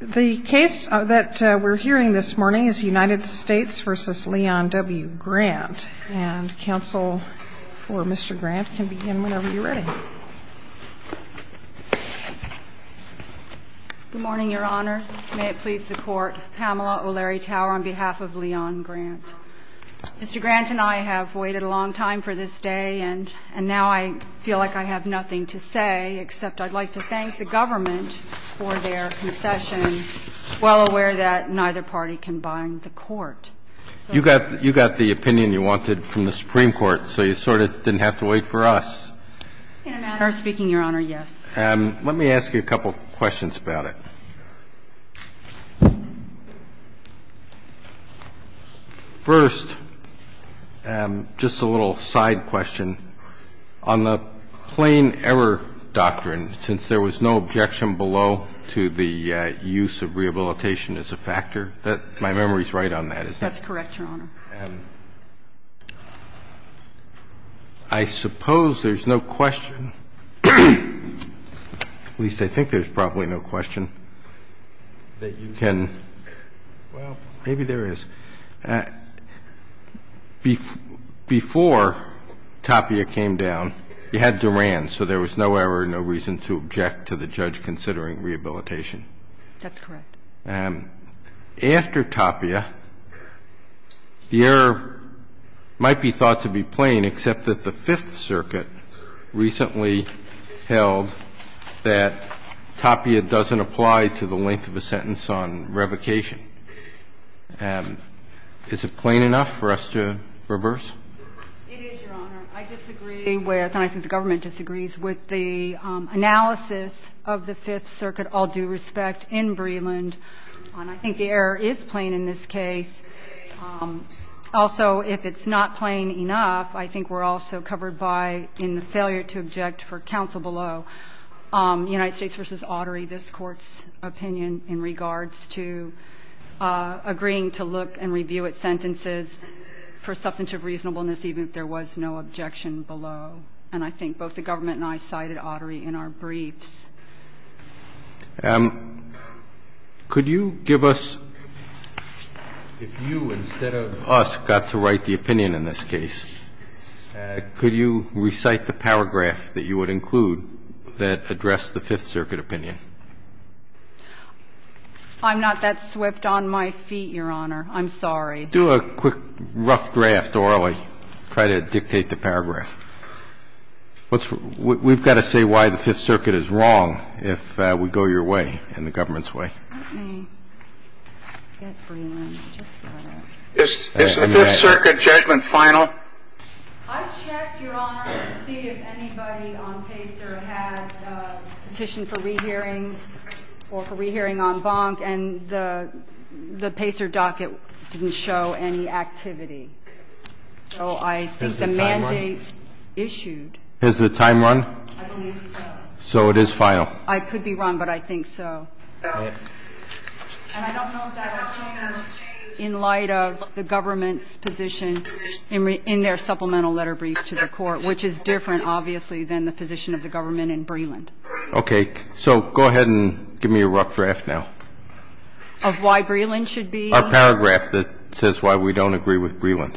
The case that we're hearing this morning is United States v. Leon W. Grant, and counsel for Mr. Grant can begin whenever you're ready. Good morning, Your Honors. May it please the Court, Pamela O'Leary Tower on behalf of Leon Grant. Mr. Grant and I have waited a long time for this day, and now I feel like I have nothing to say except I'd like to thank the government for their concession, well aware that neither party can bind the Court. You got the opinion you wanted from the Supreme Court, so you sort of didn't have to wait for us. In a matter of speaking, Your Honor, yes. Let me ask you a couple questions about it. First, just a little side question. On the plain error doctrine, since there was no objection below to the use of rehabilitation as a factor, my memory is right on that, isn't it? That's correct, Your Honor. I suppose there's no question, at least I think there's probably no question, that you can – well, maybe there is. Before Tapia came down, you had Duran, so there was no error, no reason to object to the judge considering rehabilitation. That's correct. After Tapia, the error might be thought to be plain, except that the Fifth Circuit recently held that Tapia doesn't apply to the length of a sentence on revocation. Is it plain enough for us to reverse? It is, Your Honor. I disagree with, and I think the government disagrees, with the analysis of the Fifth Circuit, all due respect, in Breland. I think the error is plain in this case. Also, if it's not plain enough, I think we're also covered by, in the failure to object for counsel below, United States v. Autry, this Court's opinion in regards to agreeing to look and review its sentences for substantive reasonableness even if there was no objection below. And I think both the government and I cited Autry in our briefs. Could you give us, if you instead of us got to write the opinion in this case, could you recite the paragraph that you would include that addressed the Fifth Circuit opinion? I'm not that swift on my feet, Your Honor. I'm sorry. Do a quick, rough draft, or I'll try to dictate the paragraph. We've got to say why the Fifth Circuit is wrong if we go your way and the government's way. Okay. I guess Breland just got it. Is the Fifth Circuit judgment final? I checked, Your Honor, to see if anybody on Pacer had a petition for rehearing or for rehearing en banc, and the Pacer docket didn't show any activity. So I think the mandate issued. Has the time run? I believe so. So it is final. I could be wrong, but I think so. And I don't know that I've seen them in light of the government's position in their supplemental letter brief to the Court, which is different, obviously, than the position of the government in Breland. Okay. So go ahead and give me a rough draft now. Of why Breland should be? Our paragraph that says why we don't agree with Breland.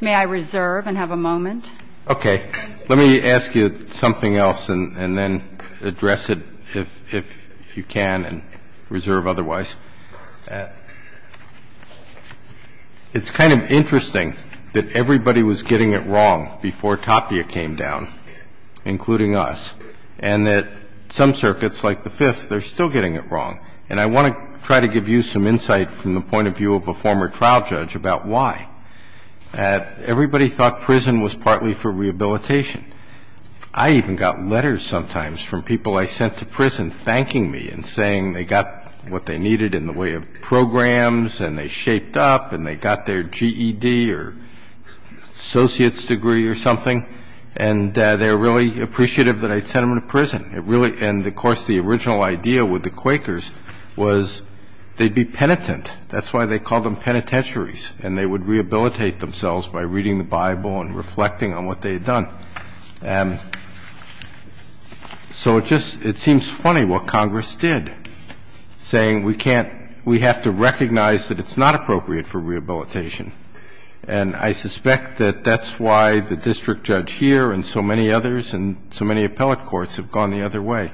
May I reserve and have a moment? Okay. Let me ask you something else and then address it, if you can, and reserve otherwise. It's kind of interesting that everybody was getting it wrong before Tapia came down, including us, and that some circuits, like the Fifth, they're still getting it wrong. And I want to try to give you some insight from the point of view of a former trial judge about why. Everybody thought prison was partly for rehabilitation. I even got letters sometimes from people I sent to prison thanking me and saying they got what they needed in the way of programs and they shaped up and they got their GED or associate's degree or something, and they were really appreciative that I sent them to prison. And of course, the original idea with the Quakers was they'd be penitent. That's why they called them penitentiaries, and they would rehabilitate themselves by reading the Bible and reflecting on what they had done. And so it seems funny what Congress did, saying we have to recognize that it's not appropriate for rehabilitation. And I suspect that that's why the district judge here and so many others and so many other ways.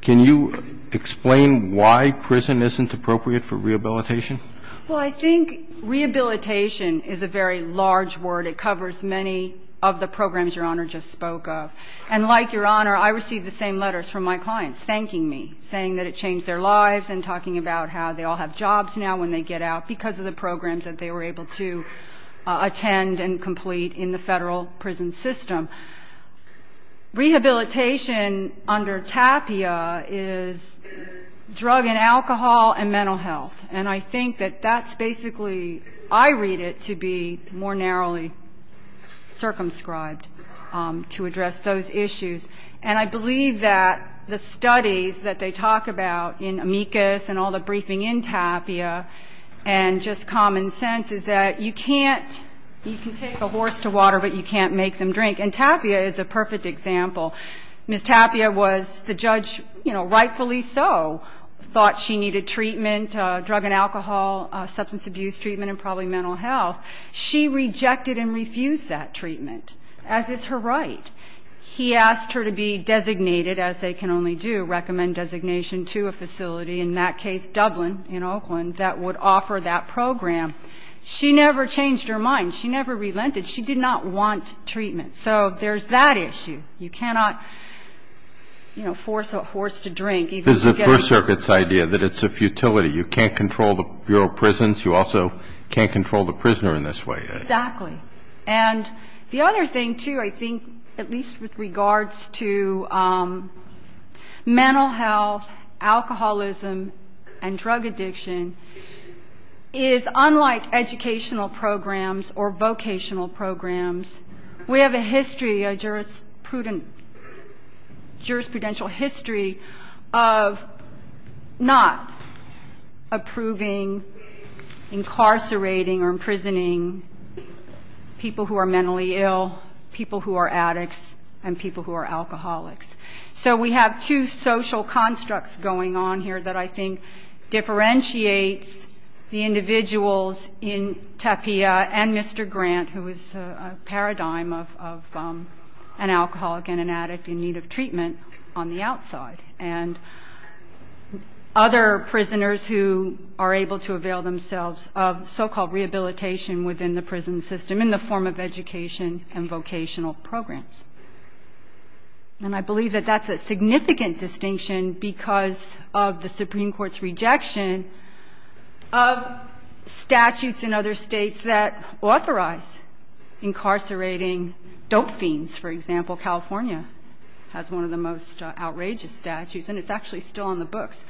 Can you explain why prison isn't appropriate for rehabilitation? Well, I think rehabilitation is a very large word. It covers many of the programs Your Honor just spoke of. And like Your Honor, I received the same letters from my clients thanking me, saying that it changed their lives and talking about how they all have jobs now when they get out because of the programs that they were able to attend and complete in the federal prison system. Rehabilitation under TAPIA is drug and alcohol and mental health. And I think that that's basically, I read it to be more narrowly circumscribed to address those issues. And I believe that the studies that they talk about in amicus and all the briefing in TAPIA and just common sense is that you can take a horse to water, but you can't make them drink. And TAPIA is a perfect example. Ms. TAPIA was the judge, you know, rightfully so, thought she needed treatment, drug and alcohol, substance abuse treatment, and probably mental health. She rejected and refused that treatment, as is her right. He asked her to be designated, as they can only do, recommend designation to a facility, in that case Dublin in Oakland, that would offer that program. She never changed her mind. She never relented. She did not want treatment. So there's that issue. You cannot, you know, force a horse to drink even to get a drink. This is the First Circuit's idea that it's a futility. You can't control the Bureau of Prisons. You also can't control the prisoner in this way. Exactly. And the other thing, too, I think, at least with regards to mental health, alcoholism, and drug addiction, is unlike educational programs or vocational programs, we have a history, a jurisprudential history of not approving, incarcerating, or imprisoning people who are mentally ill, people who are addicts, and people who are alcoholics. So we have two social constructs going on here that I think differentiates the individuals in Tapia and Mr. Grant, who is a paradigm of an alcoholic and an addict in need of treatment on the outside, and other prisoners who are able to avail themselves of so-called rehabilitation within the prison system in the form of education and vocational programs. And I believe that that's a significant distinction because of the Supreme Court's rejection of statutes in other states that authorize incarcerating dope fiends. For example, California has one of the most outrageous statutes, and it's actually still on the books.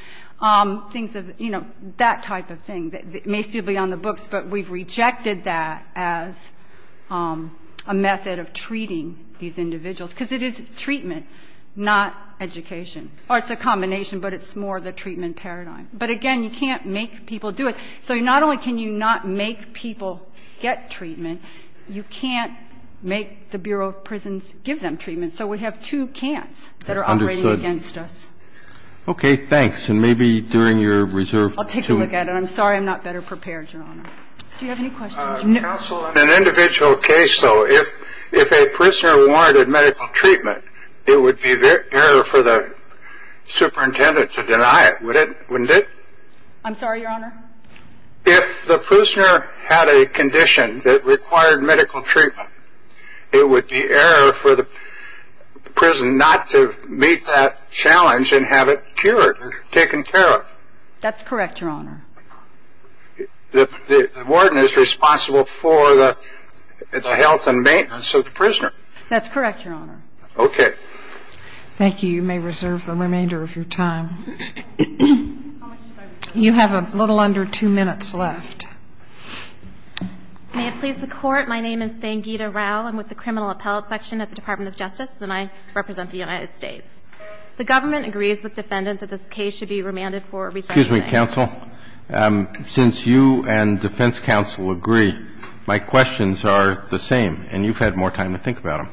Things of, you know, that type of thing. It may still be on the books, but we've rejected that as a method of treating these individuals because it is treatment, not education. Or it's a combination, but it's more the treatment paradigm. But again, you can't make people do it. So not only can you not make people get treatment, you can't make the Bureau of Prisons give them treatment. So we have two can'ts that are operating against us. Okay, thanks. And maybe during your reserve. I'll take a look at it. I'm sorry I'm not better prepared, Your Honor. Do you have any questions? Counsel, in an individual case, though, if a prisoner wanted medical treatment, it would be better for the superintendent to deny it. Wouldn't it? I'm sorry, Your Honor? If the prisoner had a condition that required medical treatment, it would be error for the prison not to meet that challenge and have it cured or taken care of. That's correct, Your Honor. The warden is responsible for the health and maintenance of the prisoner. That's correct, Your Honor. Okay. Thank you. You may reserve the remainder of your time. You have a little under two minutes left. May it please the Court. My name is Sangita Rao. I'm with the Criminal Appellate Section at the Department of Justice, and I represent the United States. The government agrees with defendants that this case should be remanded for a recession day. Excuse me, counsel. Since you and defense counsel agree, my questions are the same, and you've had more time to think about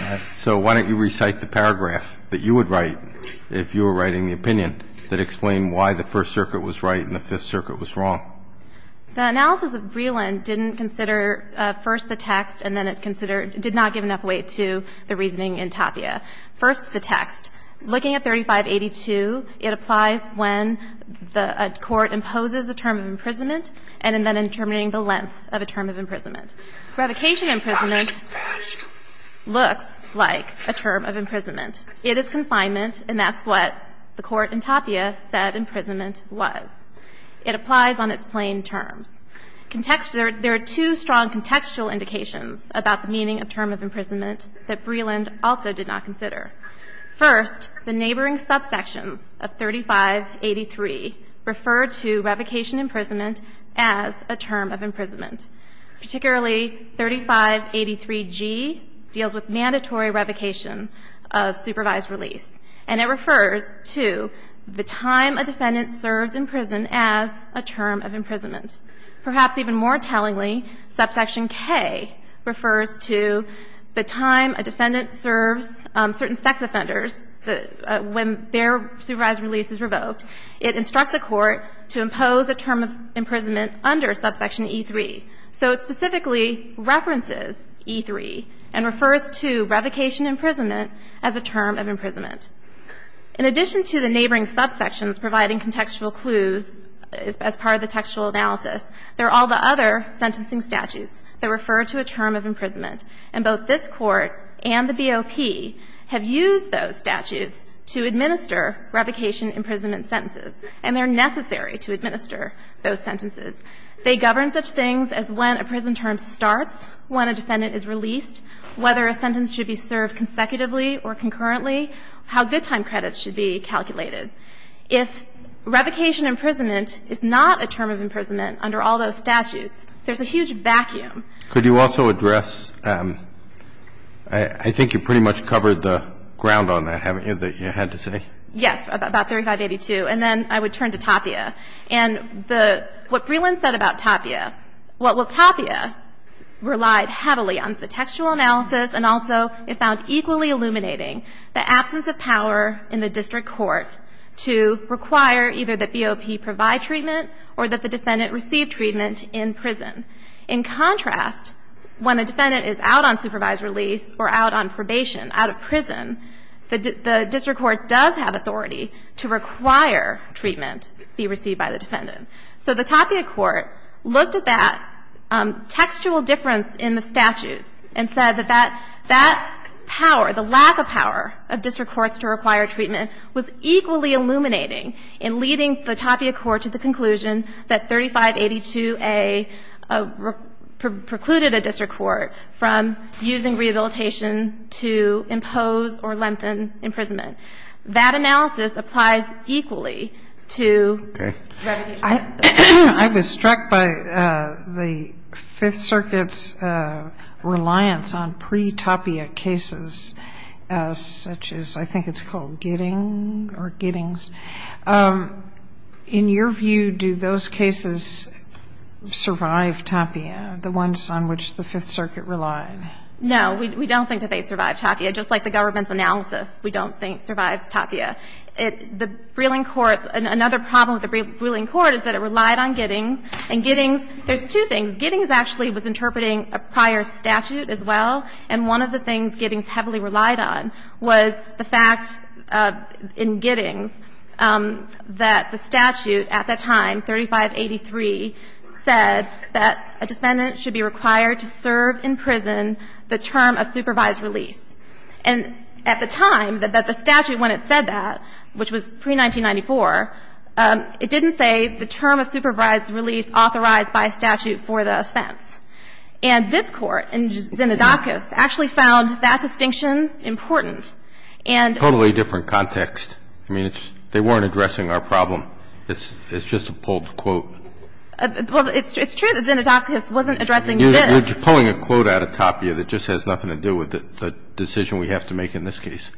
them. So why don't you recite the paragraph that you would write if you were writing the opinion that explained why the First Circuit was right and the Fifth Circuit was wrong. The analysis of Breland didn't consider first the text and then it considered – did not give enough weight to the reasoning in Tapia. First, the text. Looking at 3582, it applies when the court imposes a term of imprisonment and then in determining the length of a term of imprisonment. Revocation imprisonment looks like a term of imprisonment. It is confinement, and that's what the court in Tapia said imprisonment was. It applies on its plain terms. There are two strong contextual indications about the meaning of term of imprisonment that Breland also did not consider. First, the neighboring subsections of 3583 refer to revocation imprisonment as a term of imprisonment. Particularly, 3583G deals with mandatory revocation of supervised release. And it refers to the time a defendant serves in prison as a term of imprisonment. Perhaps even more tellingly, subsection K refers to the time a defendant serves certain sex offenders when their supervised release is revoked. It instructs a court to impose a term of imprisonment under subsection E3. So it specifically references E3 and refers to revocation imprisonment as a term of imprisonment. In addition to the neighboring subsections providing contextual clues as part of the textual analysis, there are all the other sentencing statutes that refer to a term of imprisonment. And both this Court and the BOP have used those statutes to administer revocation imprisonment sentences, and they're necessary to administer those sentences. They govern such things as when a prison term starts, when a defendant is released, whether a sentence should be served consecutively or concurrently, how good time credits should be calculated. If revocation imprisonment is not a term of imprisonment under all those statutes, there's a huge vacuum. Could you also address – I think you pretty much covered the ground on that, haven't you, that you had to say? Yes, about 3582, and then I would turn to Tapia. And what Breland said about Tapia, well, Tapia relied heavily on the textual analysis and also it found equally illuminating the absence of power in the district court to require either that BOP provide treatment or that the defendant receive treatment in prison. In contrast, when a defendant is out on supervised release or out on probation, out of prison, the district court does have authority to require treatment be received by the defendant. So the Tapia court looked at that textual difference in the statutes and said that that power, the lack of power of district courts to require treatment was equally illuminating in leading the Tapia court to the conclusion that 3582A precluded a district court from using rehabilitation to impose or lengthen imprisonment. That analysis applies equally to – Okay. I was struck by the Fifth Circuit's reliance on pre-Tapia cases such as – I think it's called Gidding or Giddings. In your view, do those cases survive Tapia, the ones on which the Fifth Circuit relied? No. We don't think that they survive Tapia. Just like the government's analysis, we don't think survives Tapia. The Breland courts – another problem with the Breland court is that it relied on Giddings. And Giddings – there's two things. Giddings actually was interpreting a prior statute as well. And one of the things Giddings heavily relied on was the fact in Giddings that the statute at that time, 3583, said that a defendant should be required to serve in prison the term of supervised release. And at the time that the statute, when it said that, which was pre-1994, it didn't say the term of supervised release authorized by a statute for the offense. And this Court, in Zinadakis, actually found that distinction important. And – Totally different context. I mean, it's – they weren't addressing our problem. It's just a pulled quote. Well, it's true that Zinadakis wasn't addressing this. You're pulling a quote out of Tapia that just has nothing to do with the decision we have to make in this case.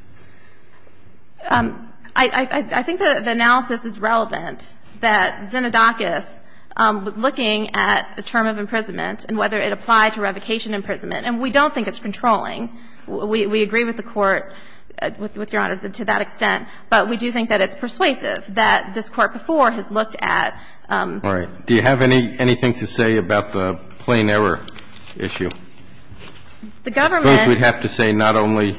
I think the analysis is relevant that Zinadakis was looking at the term of imprisonment and whether it applied to revocation imprisonment. And we don't think it's controlling. We agree with the Court, with Your Honor, to that extent. But we do think that it's persuasive that this Court before has looked at – All right. Do you have anything to say about the plain error issue? The government – I suppose we'd have to say not only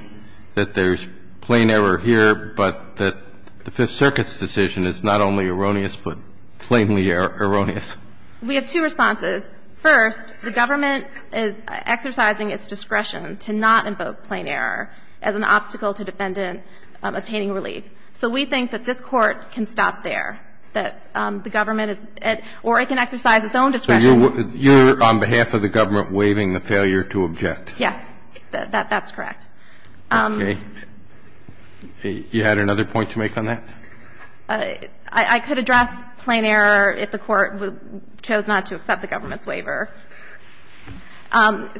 that there's plain error here, but that the Fifth Circuit's decision is not only erroneous, but plainly erroneous. We have two responses. First, the government is exercising its discretion to not invoke plain error as an obstacle to defendant obtaining relief. So we think that this Court can stop there, that the government is – or it can exercise its own discretion. So you're, on behalf of the government, waiving the failure to object? Yes. That's correct. Okay. You had another point to make on that? I could address plain error if the Court chose not to accept the government's waiver.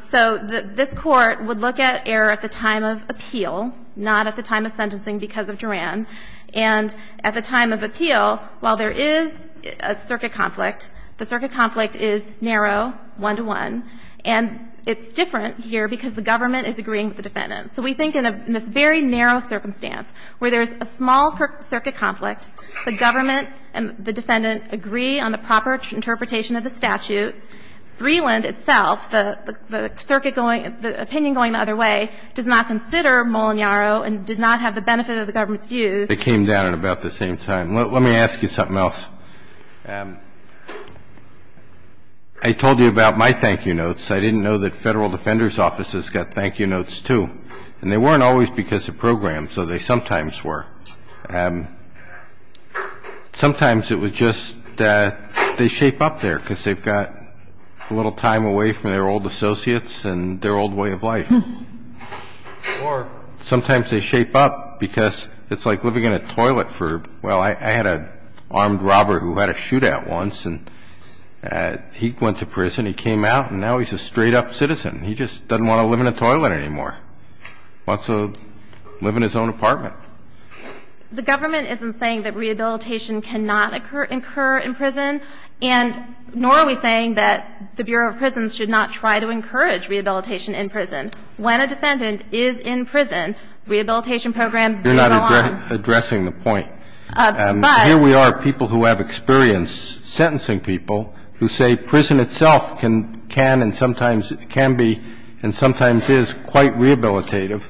So this Court would look at error at the time of appeal, not at the time of sentencing because of Duran. And at the time of appeal, while there is a circuit conflict, the circuit conflict is narrow, one-to-one. And it's different here because the government is agreeing with the defendant. So we think in this very narrow circumstance where there's a small circuit conflict, the government and the defendant agree on the proper interpretation of the statute, Greeland itself, the circuit going – the opinion going the other way, does not consider Molinaro and did not have the benefit of the government's views. It came down at about the same time. Let me ask you something else. I told you about my thank-you notes. I didn't know that Federal Defender's Offices got thank-you notes, too. And they weren't always because of programs, though they sometimes were. Sometimes it was just they shape up there because they've got a little time away from their old associates and their old way of life. Or sometimes they shape up because it's like living in a toilet for – well, I had an armed robber who had a shootout once. And he went to prison, he came out, and now he's a straight-up citizen. He just doesn't want to live in a toilet anymore. He wants to live in his own apartment. The government isn't saying that rehabilitation cannot occur in prison, and nor are we saying that the Bureau of Prisons should not try to encourage rehabilitation in prison. When a defendant is in prison, rehabilitation programs do go on. You're not addressing the point. But – But here we are, people who have experience sentencing people who say prison itself can and sometimes can be and sometimes is quite rehabilitative.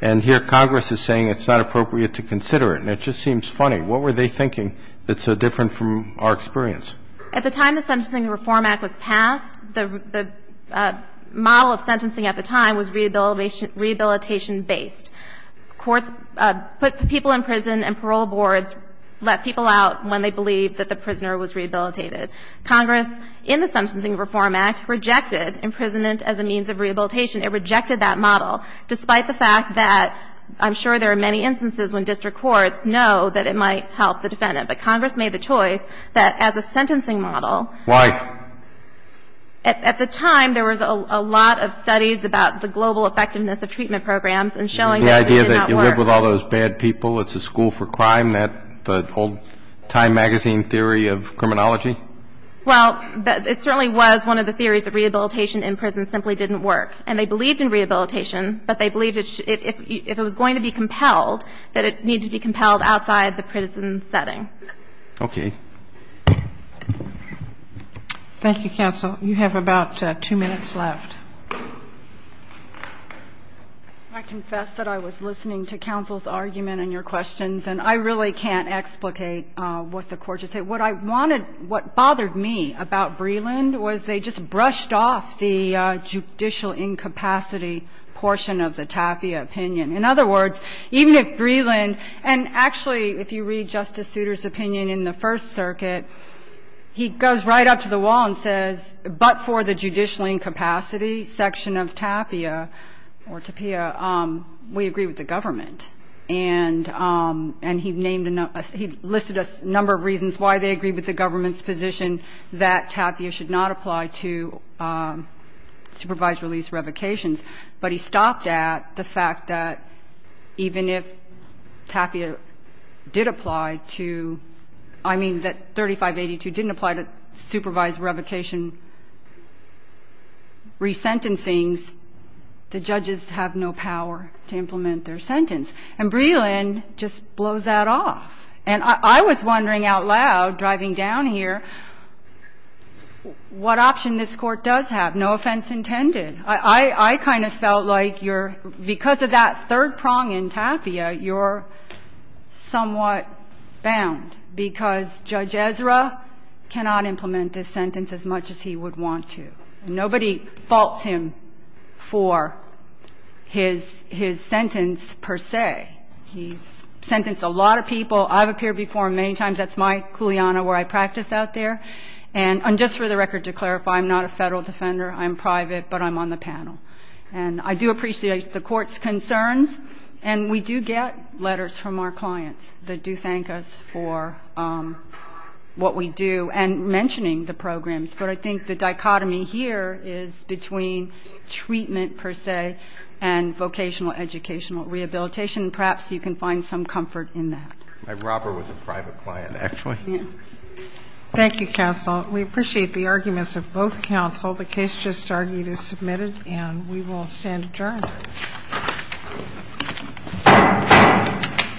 And here Congress is saying it's not appropriate to consider it. And it just seems funny. What were they thinking that's so different from our experience? At the time the Sentencing Reform Act was passed, the model of sentencing at the time was rehabilitation-based. Courts put people in prison and parole boards let people out when they believed that the prisoner was rehabilitated. Congress, in the Sentencing Reform Act, rejected imprisonment as a means of rehabilitation. It rejected that model, despite the fact that I'm sure there are many instances when district courts know that it might help the defendant. But Congress made the choice that as a sentencing model – Why? At the time, there was a lot of studies about the global effectiveness of treatment programs and showing that it did not work. The idea that you live with all those bad people, it's a school for crime, that whole Time Magazine theory of criminology? Well, it certainly was one of the theories that rehabilitation in prison simply didn't work. And they believed in rehabilitation, but they believed if it was going to be compelled, that it needed to be compelled outside the prison setting. Okay. Thank you, counsel. You have about two minutes left. I confess that I was listening to counsel's argument and your questions, and I really can't explicate what the Court just said. What I wanted – what bothered me about Breland was they just brushed off the judicial incapacity portion of the Tapia opinion. In other words, even if Breland – and actually, if you read Justice Souter's opinion in the First Circuit, he goes right up to the wall and says, but for the judicial incapacity section of Tapia, we agree with the government. And he listed a number of reasons why they agree with the government's position that Tapia should not apply to supervised release revocations. But he stopped at the fact that even if Tapia did apply to – I mean, that 3582 didn't apply to supervised revocation resentencings, the judges have no power to implement their sentence. And Breland just blows that off. And I was wondering out loud, driving down here, what option this Court does have, no offense intended. I kind of felt like you're – because of that third prong in Tapia, you're somewhat bound, because Judge Ezra cannot implement this sentence as much as he would want to. Nobody faults him for his sentence per se. He's sentenced a lot of people. I've appeared before many times. That's my kuleana where I practice out there. And just for the record, to clarify, I'm not a Federal defender. I'm private, but I'm on the panel. And I do appreciate the Court's concerns. And we do get letters from our clients that do thank us for what we do and mentioning the programs. But I think the dichotomy here is between treatment per se and vocational educational rehabilitation. And perhaps you can find some comfort in that. Roberts. My robber was a private client, actually. Thank you, counsel. We appreciate the arguments of both counsel. The case just argued is submitted. And we will stand adjourned.